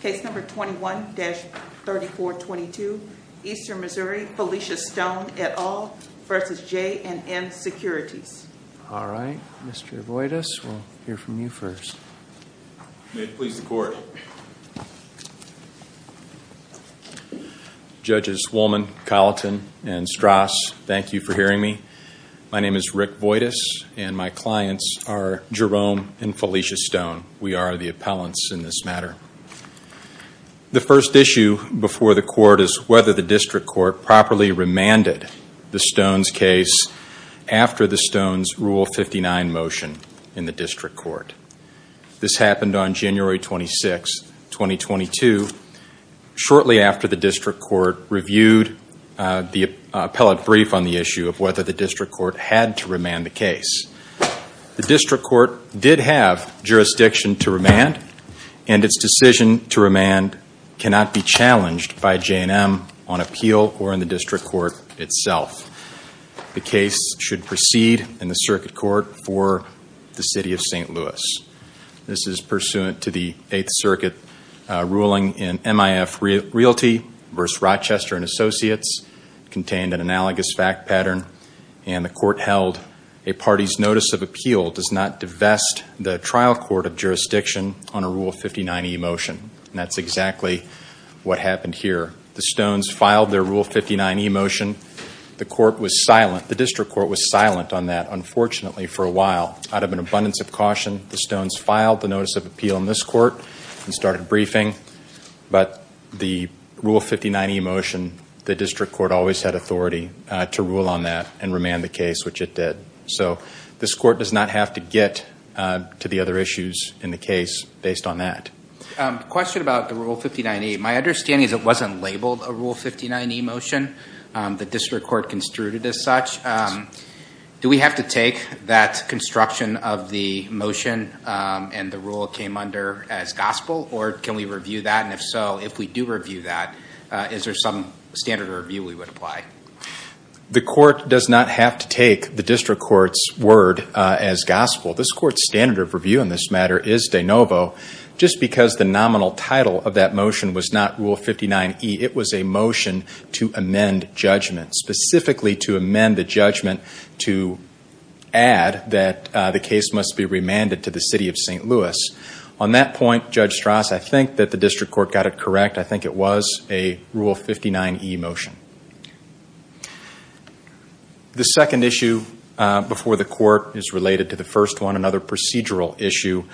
Case number 21-3422, Eastern Missouri, Felicia Stone et al. v. J & M Securities. All right, Mr. Voytas, we'll hear from you first. Judges Wolman, Colleton, and Strauss, thank you for hearing me. My name is Rick The first issue before the Court is whether the District Court properly remanded the Stones case after the Stones Rule 59 motion in the District Court. This happened on January 26, 2022, shortly after the District Court reviewed the appellate brief on the issue of whether the District Court had to remand the case. The District Court did have jurisdiction to remand, and its decision to remand cannot be challenged by J & M on appeal or in the District Court itself. The case should proceed in the Circuit Court for the City of St. Louis. This is pursuant to the Eighth Circuit ruling in MIF Realty v. Rochester and a party's notice of appeal does not divest the trial court of jurisdiction on a Rule 59 e-motion. That's exactly what happened here. The Stones filed their Rule 59 e-motion. The court was silent, the District Court was silent on that, unfortunately, for a while. Out of an abundance of caution, the Stones filed the notice of appeal in this court and started briefing. But the Rule 59 e-motion, the District Court always had authority to rule on that and remand the case, which it did. So, this court does not have to get to the other issues in the case based on that. A question about the Rule 59 e-motion. My understanding is it wasn't labeled a Rule 59 e-motion. The District Court construed it as such. Do we have to take that construction of the motion and the rule it came under as gospel, or can we review that? And if so, if we do review that, is there some standard of review we would apply? The court does not have to take the District Court's word as gospel. This court's standard of review in this matter is de novo. Just because the nominal title of that motion was not Rule 59 e, it was a motion to amend judgment, specifically to amend the judgment to add that the case must be remanded to the City of St. Louis. On that point, Judge Strauss, I think that the District Court got it correct. I think it was a Rule 59 e-motion. The second issue before the court is related to the first one, another procedural issue,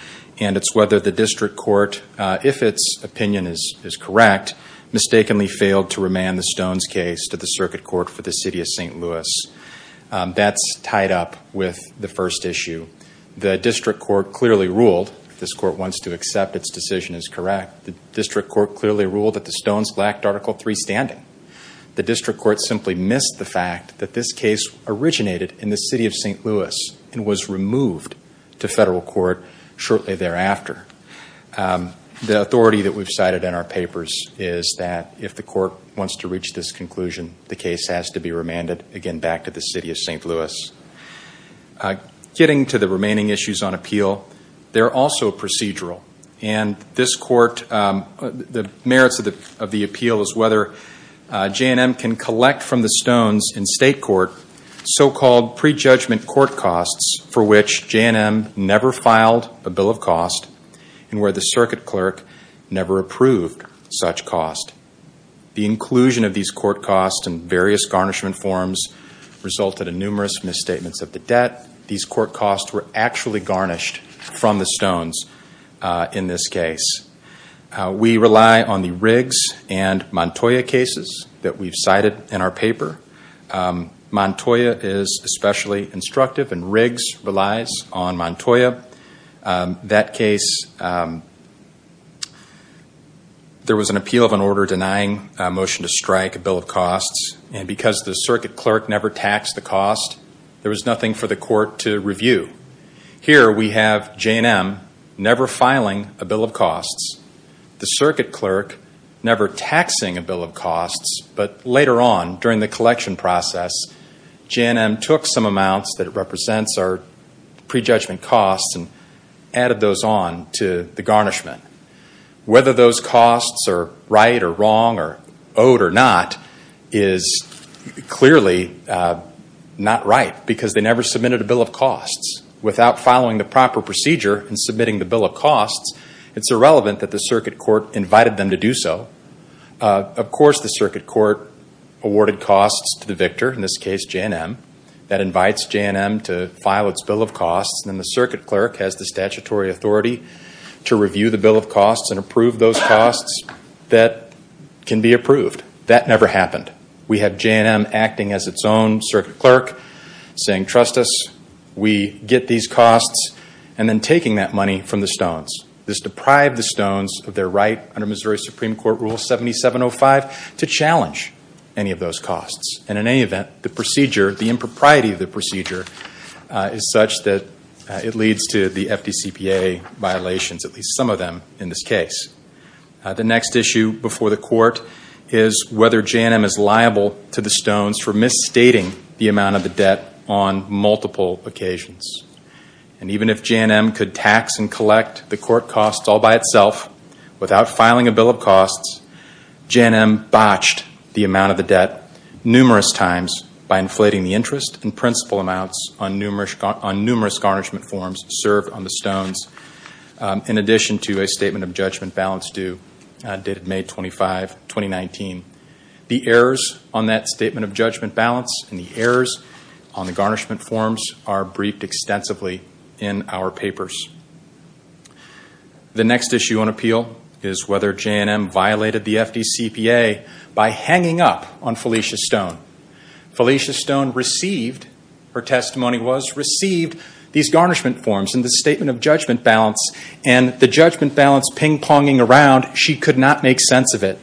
and it's whether the District Court, if its opinion is correct, mistakenly failed to remand the Stones case to the Circuit Court for the City of St. Louis. That's tied up with the first issue. The District Court clearly ruled that the Stones lacked Article 3 standing. The District Court simply missed the fact that this case originated in the City of St. Louis and was removed to federal court shortly thereafter. The authority that we've cited in our papers is that if the court wants to reach this conclusion, the case has to be remanded again back to the City of St. Louis. Getting to the merits of the appeal is whether J&M can collect from the Stones in state court so-called prejudgment court costs for which J&M never filed a bill of cost and where the Circuit Clerk never approved such cost. The inclusion of these court costs and various garnishment forms resulted in numerous misstatements of the debt. These court costs were actually garnished from the We rely on the Riggs and Montoya cases that we've cited in our paper. Montoya is especially instructive and Riggs relies on Montoya. That case, there was an appeal of an order denying a motion to strike a bill of costs and because the Circuit Clerk never taxed the cost, there was nothing for the court to review. Here we have J&M never filing a bill of costs, the Circuit Clerk never taxing a bill of costs, but later on during the collection process, J&M took some amounts that represents our prejudgment costs and added those on to the garnishment. Whether those costs are right or wrong or owed or not is clearly not right because they never submitted a bill of costs. Without following the proper procedure and submitting the bill of costs, it's irrelevant that the Circuit Court invited them to do so. Of course the Circuit Court awarded costs to the victor, in this case J&M. That invites J&M to file its bill of costs and the Circuit Clerk has the statutory authority to review the bill of costs and approve those costs that can be approved. That never happened. We have J&M acting as its own Circuit Clerk saying trust us, we get these costs and then taking that money from the Stones. This deprived the Stones of their right under Missouri Supreme Court Rule 7705 to challenge any of those costs and in any event the procedure, the impropriety of the procedure is such that it leads to the FDCPA violations, at least some of them in this case. The next issue before the the amount of the debt on multiple occasions and even if J&M could tax and collect the court costs all by itself without filing a bill of costs, J&M botched the amount of the debt numerous times by inflating the interest and principal amounts on numerous on numerous garnishment forms served on the Stones in addition to a statement of judgment balance due dated May 25, 2019. The errors on that statement of judgment balance and the errors on the garnishment forms are briefed extensively in our papers. The next issue on appeal is whether J&M violated the FDCPA by hanging up on Felicia Stone. Felicia Stone received, her testimony was received, these garnishment forms and the statement of judgment balance and the judgment balance ping-ponging around she could not make sense of it.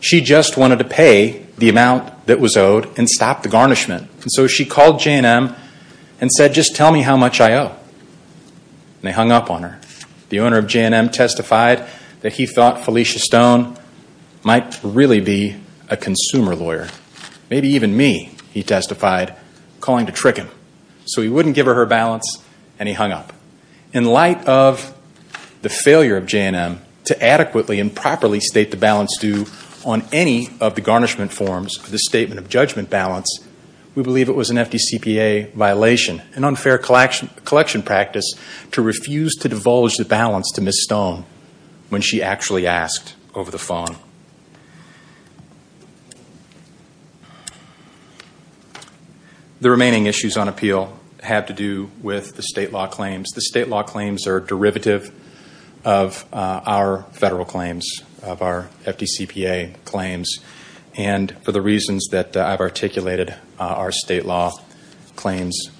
She just wanted to pay the amount that was owed and stop the garnishment and so she called J&M and said just tell me how much I owe and they hung up on her. The owner of J&M testified that he thought Felicia Stone might really be a consumer lawyer, maybe even me, he testified calling to trick him so he wouldn't give her her balance and he hung up. In light of the failure of J&M to adequately and properly state the balance due on any of the garnishment forms, the statement of judgment balance, we believe it was an FDCPA violation, an unfair collection practice to refuse to divulge the balance to Ms. Stone when she actually asked over the phone. The remaining issues on appeal have to do with the state law claims. The state law claims are derivative of our federal claims, of our FDCPA claims and for the reasons that I've articulated, our state law claims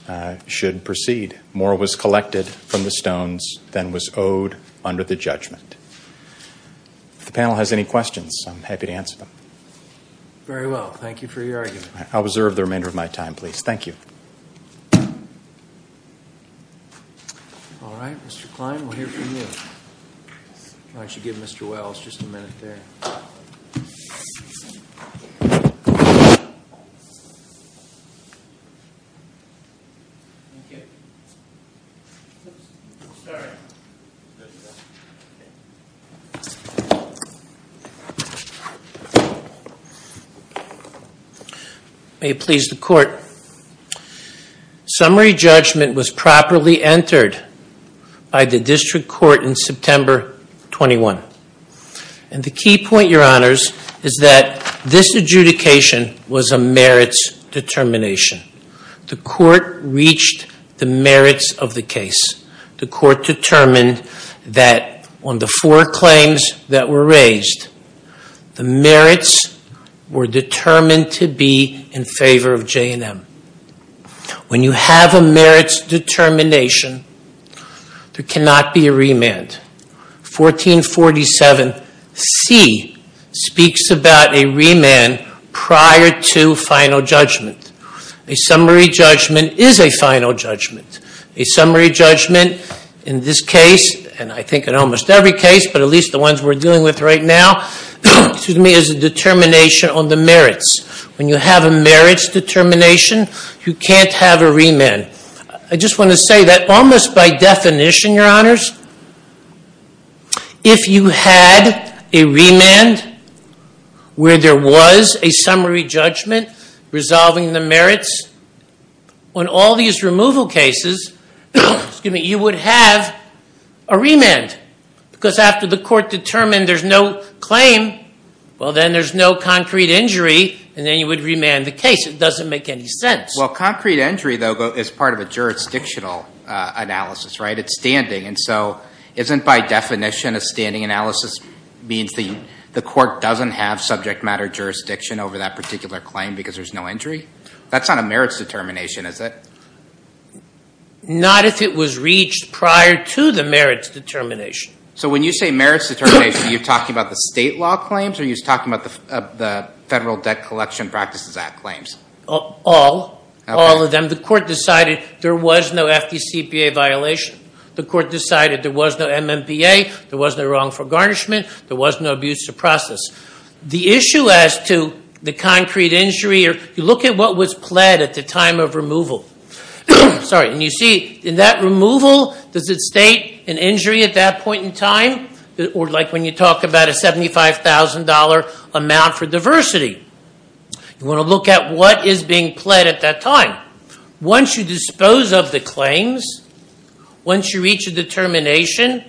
should proceed. More was collected from the Stones than was owed under the judgment. If the panel has any questions, I'm happy to answer them. Very well, thank you for your argument. I'll Alright, Mr. Klein, we'll hear from you. I should give Mr. Wells just a minute there. May it please the court. Summary judgment was properly entered by the District Court in September 21 and the key point, your honors, is that this merits determination. The court reached the merits of the case. The court determined that on the four claims that were raised, the merits were determined to be in favor of J&M. When you have a merits determination, there cannot be a remand. 1447C speaks about a remand prior to final judgment. A summary judgment is a final judgment. A summary judgment in this case, and I think in almost every case, but at least the ones we're dealing with right now, is a determination on the merits. When you have a merits determination, you can't have a remand. I just want to say that almost by definition, your honors, if you had a remand where there was a summary judgment resolving the merits, on all these removal cases, you would have a remand. Because after the court determined there's no claim, well then there's no concrete injury, and then you would remand the case. It doesn't make any sense. Well, concrete injury, though, is part of a jurisdictional analysis, right? It's standing, and so isn't, by definition, a standing analysis means the court doesn't have subject matter jurisdiction over that particular claim because there's no injury? That's not a merits determination, is it? Not if it was reached prior to the merits determination. So when you say merits determination, are you talking about the state law claims, or are you talking about the Federal Debt Collection Practices Act claims? All. All of them. The court decided there was no FDCPA violation. The court decided there was no MMPA, there was no wrongful garnishment, there was no abuse of process. The issue as to the concrete injury, you look at what was pled at the time of removal. Sorry, and you see, in that removal, does it state an injury at that point in time? Or like when you talk about a $75,000 amount for diversity? You want to look at what is being pled at that time. Once you dispose of the claims, once you reach a determination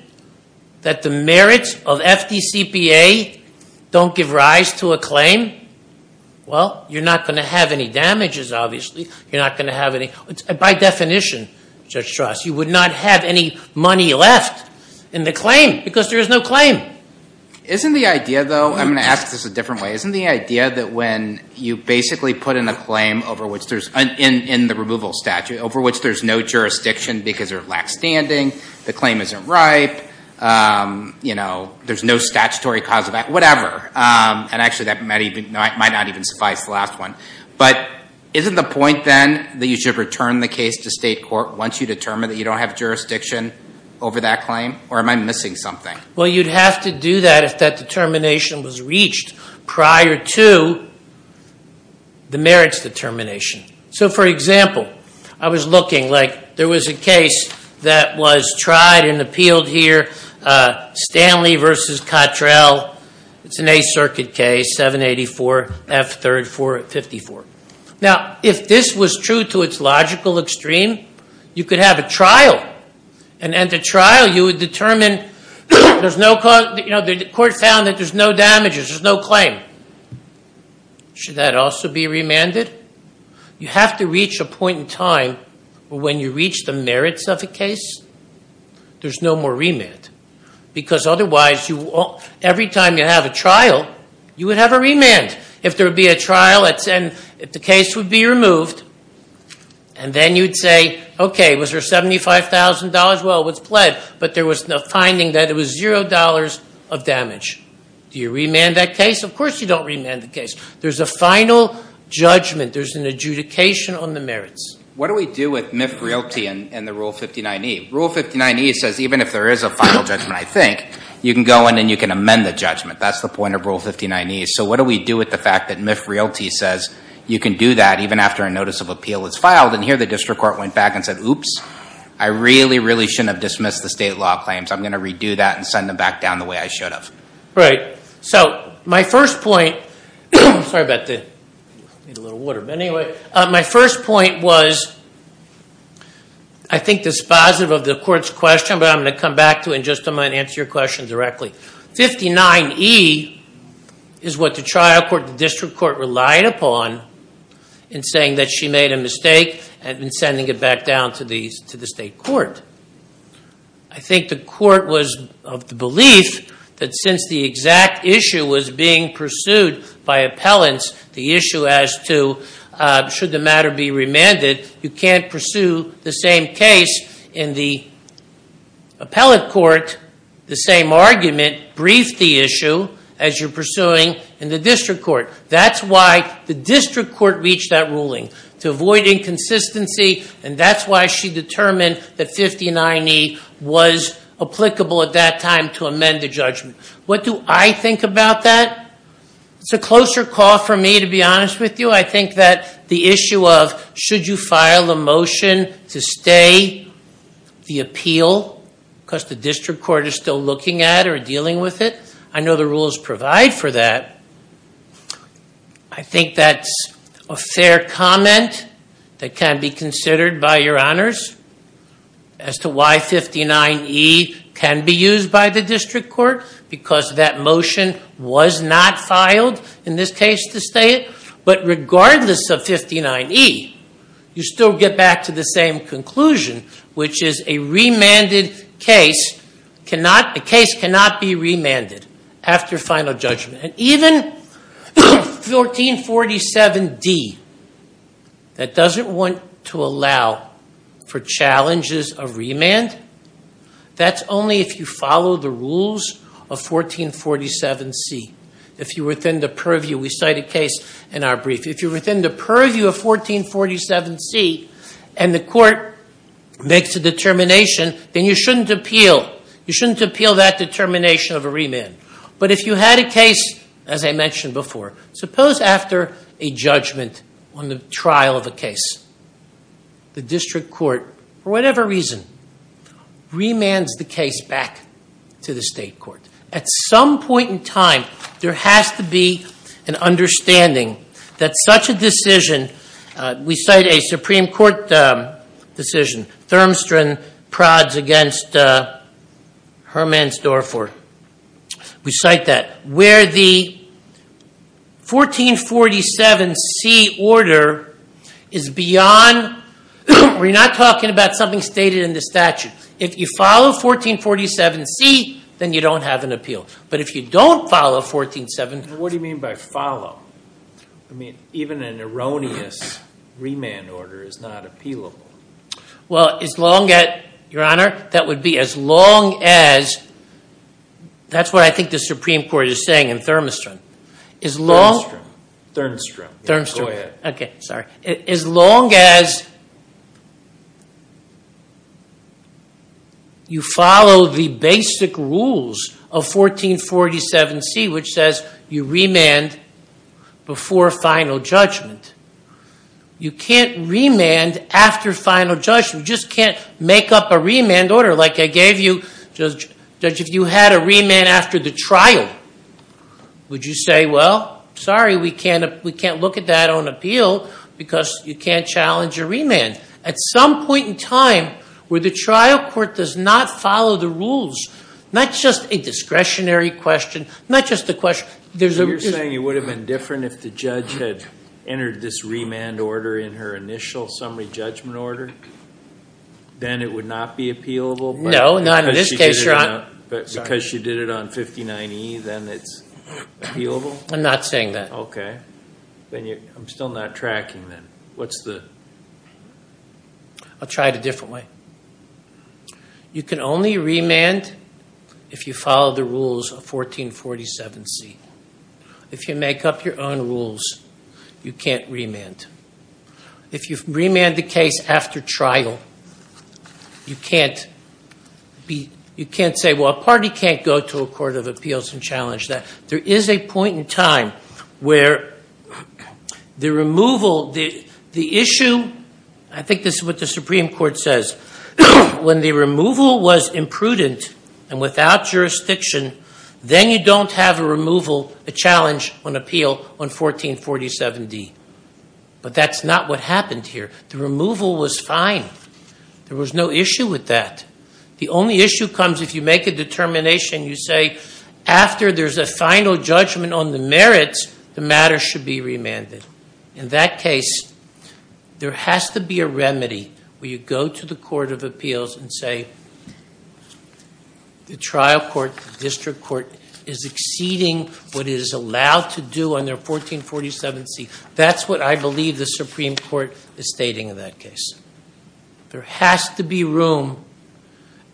that the merits of FDCPA don't give rise to a claim, well, you're not going to have any damages, obviously. You're not going to have any, by definition, Judge Strauss, you would not have any money left in the claim because there is no claim. Isn't the idea, though, I'm going to ask this a different way, isn't the idea that when you basically put in a claim over which there's, in the removal statute, over which there's no jurisdiction because they're lax standing, the claim isn't ripe, you know, there's no statutory cause of act, whatever, and actually that might not even suffice, the last one. But isn't the point, then, that you should return the case to state court once you determine that you don't have jurisdiction over that claim? Or am I missing something? Well, you'd have to do that if that determination was reached prior to the merits determination. So, for example, I was looking, like, there was a case that was tried and appealed here, Stanley versus Cottrell, it's an A circuit case, 784F3454. Now, if this was true to its logical extreme, you could have a trial. And at the trial, you would determine, the court found that there's no damages, there's no claim. Should that also be remanded? You have to reach a point in time when you reach the merits of the case, there's no more remand. Because otherwise, every time you have a trial, you would have a remand. If there would be a trial, and the case would be removed, and then you'd say, okay, was there $75,000? Well, it was pled, but there was a finding that it was $0 of damage. Do you remand that case? Of course you don't remand the case. There's a final judgment, there's an adjudication on the merits. What do we do with MIF royalty and the Rule 59E? Rule 59E says even if there is a final judgment, I think, you can go in and you can amend the judgment. That's the point of Rule 59E. So what do we do with the fact that MIF royalty says you can do that even after a notice of appeal is filed? And here the district court went back and said, oops, I really, really shouldn't have dismissed the state law claims. I'm going to redo that and send them back down the way I should have. Right. So my first point, sorry about the, I need a little water. But anyway, my first point was, I think this is positive of the court's question, but I'm going to come back to it in just a minute and answer your question directly. 59E is what the trial court, the district court, relied upon in saying that she made a mistake and sending it back down to the state court. I think the court was of the belief that since the exact issue was being pursued by appellants, the issue as to should the matter be remanded, you can't pursue the same case in the appellant court. The same argument briefed the issue as you're pursuing in the district court. That's why the district court reached that ruling, to avoid inconsistency, and that's why she determined that 59E was applicable at that time to amend the judgment. What do I think about that? It's a closer call for me, to be honest with you. I think that the issue of should you file a motion to stay the appeal, because the district court is still looking at it or dealing with it, I know the rules provide for that. I think that's a fair comment that can be considered by your honors as to why 59E can be used by the district court, because that motion was not filed in this case to stay it. But regardless of 59E, you still get back to the same conclusion, which is a remanded case, a case cannot be remanded after final judgment. And even 1447D, that doesn't want to allow for challenges of remand, that's only if you follow the rules of 1447C. If you're within the purview, we cite a case in our brief, if you're within the purview of 1447C and the court makes a determination, then you shouldn't appeal. You shouldn't appeal that determination of a remand. But if you had a case, as I mentioned before, suppose after a judgment on the trial of a case, the district court, for whatever reason, remands the case back to the state court. At some point in time, there has to be an understanding that such a decision, we cite a Supreme Court decision, Thurmstrand prods against Hermann Storfford. We cite that. Where the 1447C order is beyond, we're not talking about something stated in the statute. If you follow 1447C, then you don't have an appeal. But if you don't follow 1447- What do you mean by follow? I mean, even an erroneous remand order is not appealable. Well, as long as, your honor, that would be as long as, that's what I think the Supreme Court is saying in Thurmstrand. As long- Thurmstrand. Thurmstrand. Okay, sorry. As long as you follow the basic rules of 1447C which says, you remand before final judgment. You can't remand after final judgment. You just can't make up a remand order like I gave you. Judge, if you had a remand after the trial, would you say, well, sorry, we can't look at that on appeal because you can't challenge a remand. At some point in time, where the trial court does not follow the rules, not just a discretionary question, not just a question, there's a- You're saying it would have been different if the judge had entered this remand order in her initial summary judgment order? Then it would not be appealable? No, not in this case, your honor. But because she did it on 59E, then it's appealable? I'm not saying that. Okay. Then you, I'm still not tracking then. What's the- I'll try it a different way. You can only remand if you follow the rules of 1447C. If you make up your own rules, you can't remand. If you remand the case after trial, you can't be, you can't say, well, a party can't go to a court of appeals and challenge that. There is a point in time where the removal, the issue, I think this is what the Supreme Court says, when the removal was imprudent and without jurisdiction, then you don't have a removal, a challenge on appeal on 1447D. But that's not what happened here. The removal was fine. There was no issue with that. The only issue comes if you make a determination, you say, after there's a final judgment on the merits, the matter should be remanded. In that case, there has to be a remedy where you go to the court of appeals and say the trial court, the district court, is exceeding what it is allowed to do under 1447C. That's what I believe the Supreme Court is stating in that case. There has to be room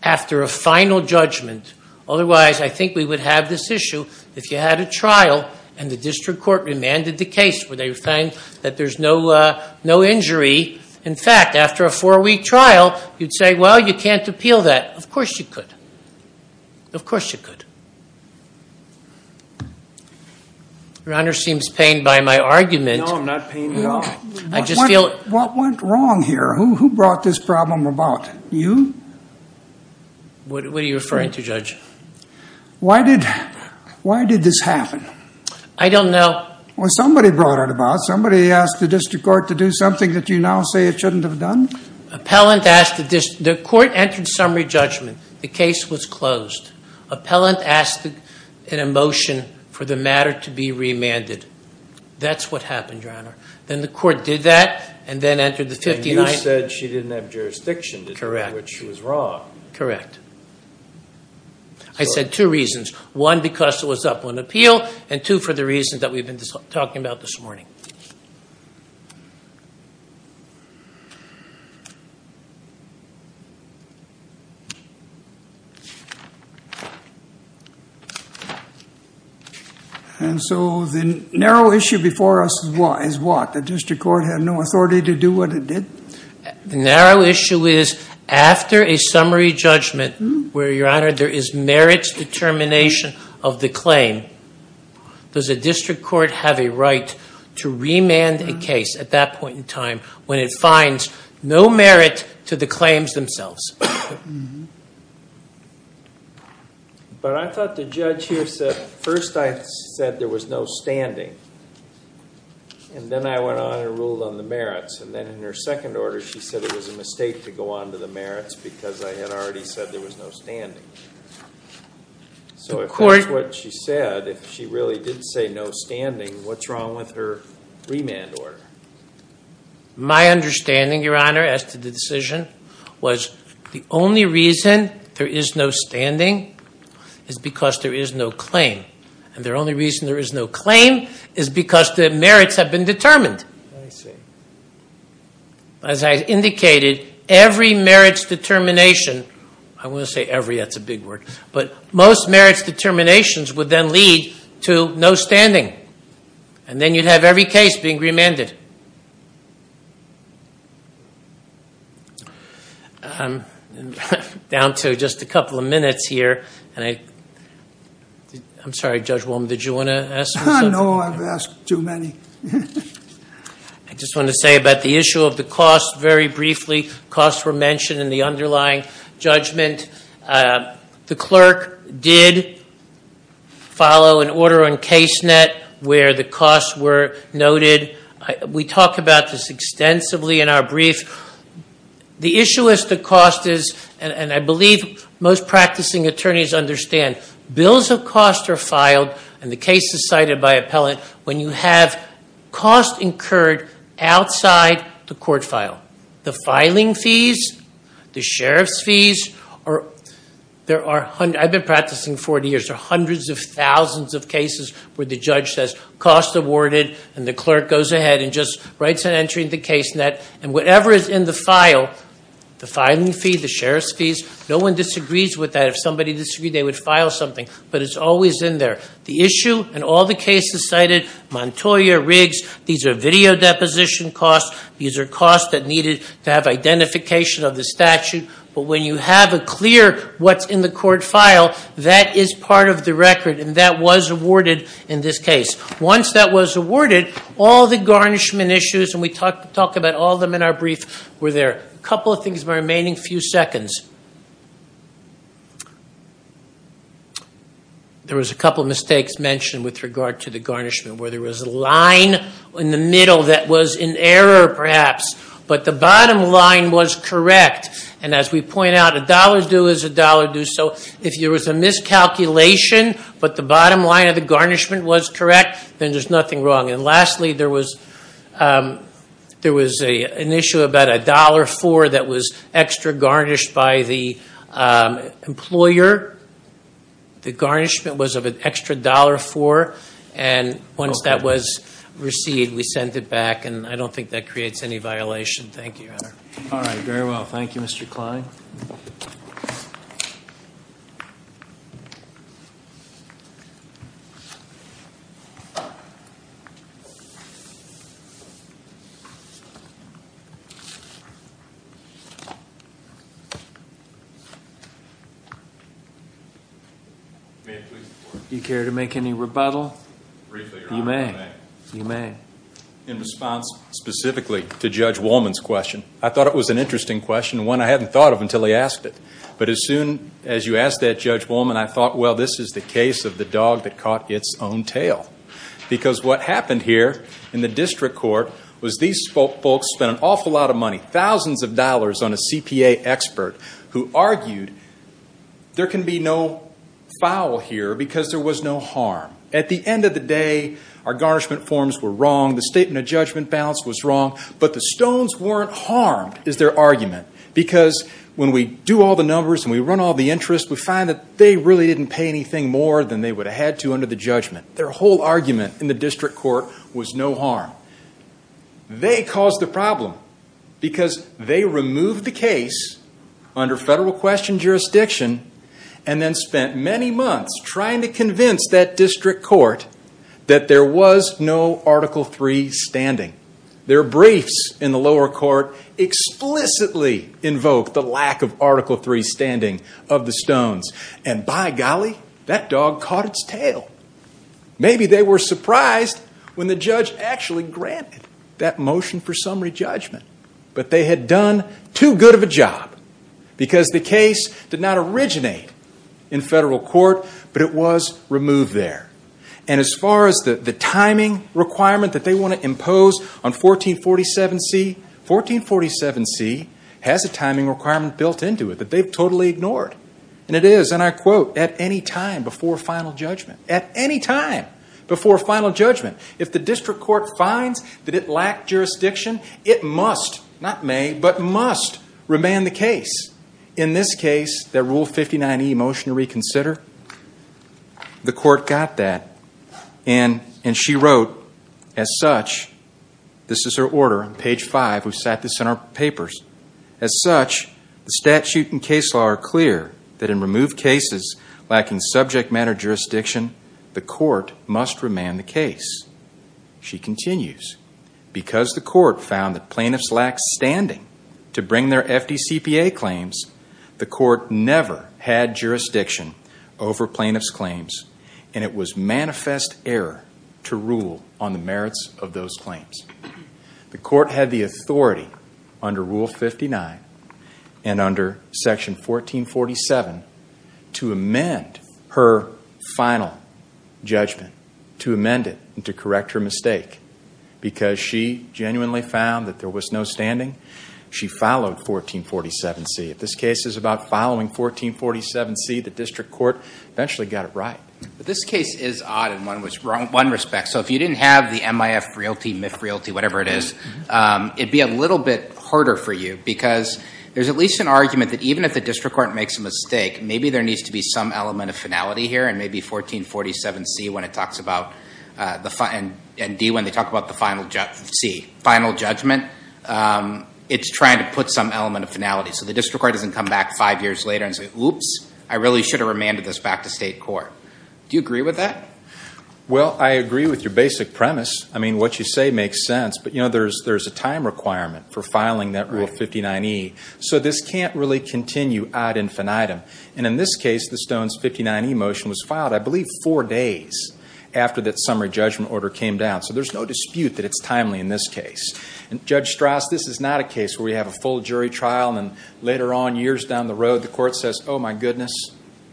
after a final judgment. Otherwise, I think we would have this issue if you had a trial and the district court remanded the case where they find that there's no injury. In fact, after a four-week trial, you'd say, well, you can't appeal that. Of course you could. Of course you could. Your Honor seems pained by my argument. No, I'm not pained at all. I just feel- What went wrong here? Who brought this problem about? You? What are you referring to, Judge? Why did this happen? I don't know. Well, somebody brought it about. Somebody asked the district court to do something that you now say it shouldn't have done. Appellant asked the district, the court entered summary judgment. The case was closed. Appellant asked in a motion for the matter to be remanded. That's what happened, Your Honor. Then the court did that, and then entered the 15- And you said she didn't have jurisdiction to do what she was wrong. Correct. I said two reasons. One, because it was up on appeal, and two, for the reasons that we've been talking about this morning. And so the narrow issue before us is what? The district court had no authority to do what it did? The narrow issue is, after a summary judgment, where, Your Honor, there is merits determination of the claim, does a district court have a right to remand a case at that point in time when it finds no merit to the claims themselves? But I thought the judge here said, first I said there was no standing, and then I went on and ruled on the merits, and then in her second order, she said it was a mistake to go on to the merits because I had already said there was no standing. So if that's what she said, if she really did say no standing, what's wrong with her remand order? My understanding, Your Honor, as to the decision, was the only reason there is no standing is because there is no claim. And the only reason there is no claim is because the merits have been determined. I see. As I indicated, every merits determination, I won't say every, that's a big word, but most merits determinations would then lead to no standing. And then you'd have every case being remanded. I'm down to just a couple of minutes here, and I, I'm sorry, Judge Wolm, did you want to ask me something? I know I've asked too many. I just want to say about the issue of the cost very briefly. Costs were mentioned in the underlying judgment. The clerk did follow an order on case net where the costs were noted. We talk about this extensively in our brief. The issue is the cost is, and I believe most practicing attorneys understand, bills of cost are filed, and the case is cited by appellant, when you have cost incurred outside the court file. The filing fees, the sheriff's fees, or there are, I've been practicing 40 years, there are hundreds of thousands of cases where the judge says, cost awarded. And the clerk goes ahead and just writes an entry in the case net. And whatever is in the file, the filing fee, the sheriff's fees, no one disagrees with that, if somebody disagreed, they would file something, but it's always in there. The issue in all the cases cited, Montoya, Riggs, these are video deposition costs. These are costs that needed to have identification of the statute. But when you have a clear what's in the court file, that is part of the record, and that was awarded in this case. Once that was awarded, all the garnishment issues, and we talk about all of them in our brief, were there. A couple of things in the remaining few seconds. There was a couple of mistakes mentioned with regard to the garnishment, where there was a line in the middle that was in error, perhaps, but the bottom line was correct. And as we point out, a dollar due is a dollar due, so if there was a miscalculation, but the bottom line of the garnishment was correct, then there's nothing wrong. And lastly, there was an issue about a dollar for that was extra garnished by the employer. The garnishment was of an extra dollar for, and once that was received, we sent it back, and I don't think that creates any violation. Thank you. All right, very well, thank you, Mr. Klein. May it please the court. Do you care to make any rebuttal? Briefly, Your Honor, I may. You may. In response specifically to Judge Wolman's question, I thought it was an interesting question, one I hadn't thought of until he asked it. But as soon as you asked that, Judge Wolman, I thought, well, this is the case of the dog that caught its own tail. Because what happened here in the district court was these folks spent an awful lot of money, thousands of dollars on a CPA expert who argued there can be no foul here because there was no harm. At the end of the day, our garnishment forms were wrong, the statement of judgment balance was wrong, but the stones weren't harmed, is their argument. Because when we do all the numbers and we run all the interest, we find that they really didn't pay anything more than they would have had to under the judgment. Their whole argument in the district court was no harm. They caused the problem because they removed the case under federal question jurisdiction and then spent many months trying to convince that district court that there was no Article III standing. Their briefs in the lower court explicitly invoked the lack of Article III standing of the stones. And by golly, that dog caught its tail. Maybe they were surprised when the judge actually granted that motion for summary judgment. But they had done too good of a job because the case did not originate in federal court, but it was removed there. And as far as the timing requirement that they want to impose on 1447C, 1447C has a timing requirement built into it that they've totally ignored. And it is, and I quote, at any time before final judgment. At any time before final judgment. If the district court finds that it lacked jurisdiction, it must, not may, but must remand the case. In this case, that Rule 59E motion to reconsider, the court got that. And she wrote, as such, this is her order on page five. We've set this in our papers. As such, the statute and case law are clear that in removed cases lacking subject matter jurisdiction, the court must remand the case. She continues, because the court found that plaintiffs lacked standing to bring their FDCPA claims, the court never had jurisdiction over plaintiffs' claims. And it was manifest error to rule on the merits of those claims. The court had the authority under Rule 59 and under Section 1447 to amend her final judgment. To amend it and to correct her mistake. Because she genuinely found that there was no standing, she followed 1447C. If this case is about following 1447C, the district court eventually got it right. But this case is odd in one respect. So if you didn't have the MIF realty, MIF realty, whatever it is, it'd be a little bit harder for you. Because there's at least an argument that even if the district court makes a mistake, maybe there needs to be some element of finality here. And maybe 1447C when it talks about the final, and D when they talk about the final C, final judgment. It's trying to put some element of finality. So the district court doesn't come back five years later and say, oops, I really should have remanded this back to state court. Do you agree with that? Well, I agree with your basic premise. I mean, what you say makes sense. But you know, there's a time requirement for filing that Rule 59E. So this can't really continue ad infinitum. And in this case, the Stone's 59E motion was filed I believe four days after that summary judgment order came down. So there's no dispute that it's timely in this case. And Judge Strauss, this is not a case where we have a full jury trial and later on, years down the road, the court says, oh my goodness,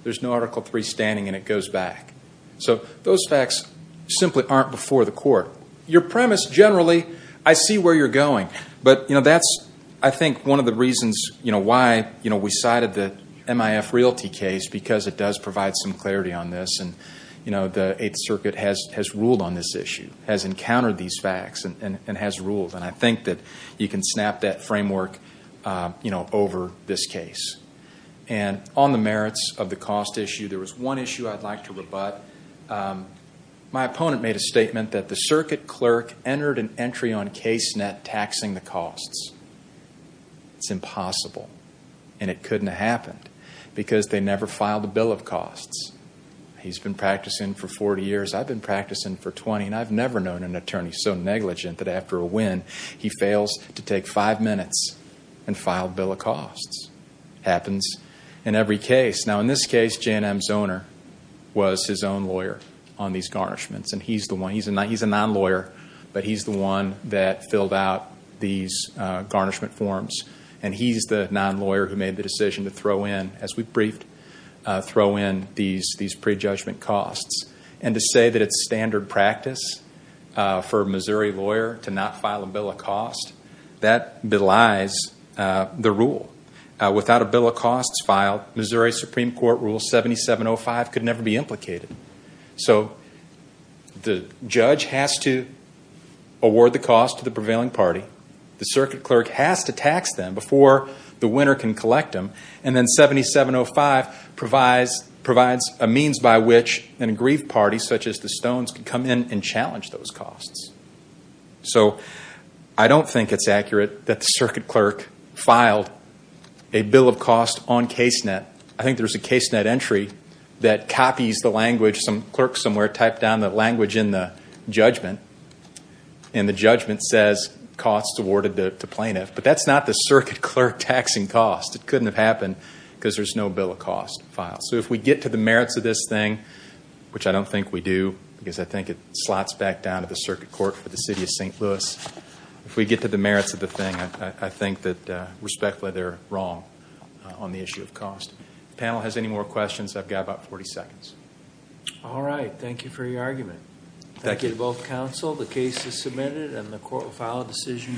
there's no Article III standing and it goes back. So those facts simply aren't before the court. Your premise generally, I see where you're going. But you know, that's I think one of the reasons, you know, why, you know, we cited the MIF Realty case because it does provide some clarity on this. And you know, the Eighth Circuit has ruled on this issue, has encountered these facts and has ruled. And I think that you can snap that framework, you know, over this case. And on the merits of the cost issue, there was one issue I'd like to rebut. My opponent made a statement that the circuit clerk entered an entry on case net taxing the costs. It's impossible and it couldn't have happened because they never filed a bill of costs. He's been practicing for 40 years. I've been practicing for 20 and I've never known an attorney so negligent that after a win, he fails to take five minutes and file a bill of costs. Happens in every case. Now in this case, J&M's owner was his own lawyer on these garnishments. And he's the one, he's a non-lawyer, but he's the one that filled out these garnishment forms. And he's the non-lawyer who made the decision to throw in, as we briefed, throw in these prejudgment costs. And to say that it's standard practice for a Missouri lawyer to not file a bill of cost, that belies the rule. Without a bill of costs filed, Missouri Supreme Court Rule 7705 could never be implicated. So the judge has to award the cost to the prevailing party. The circuit clerk has to tax them before the winner can collect them. And then 7705 provides a means by which an aggrieved party, such as the Stones, can come in and challenge those costs. So I don't think it's accurate that the circuit clerk filed a bill of cost on case net. I think there's a case net entry that copies the language. Some clerk somewhere typed down the language in the judgment, and the judgment says costs awarded to plaintiff. But that's not the circuit clerk taxing cost. It couldn't have happened because there's no bill of cost filed. So if we get to the merits of this thing, which I don't think we do, because I think it slots back down to the circuit court for the city of St. Louis. If we get to the merits of the thing, I think that respectfully they're wrong on the issue of cost. Panel has any more questions? I've got about 40 seconds. All right, thank you for your argument. Thank you to both counsel. The case is submitted and the court will file a decision.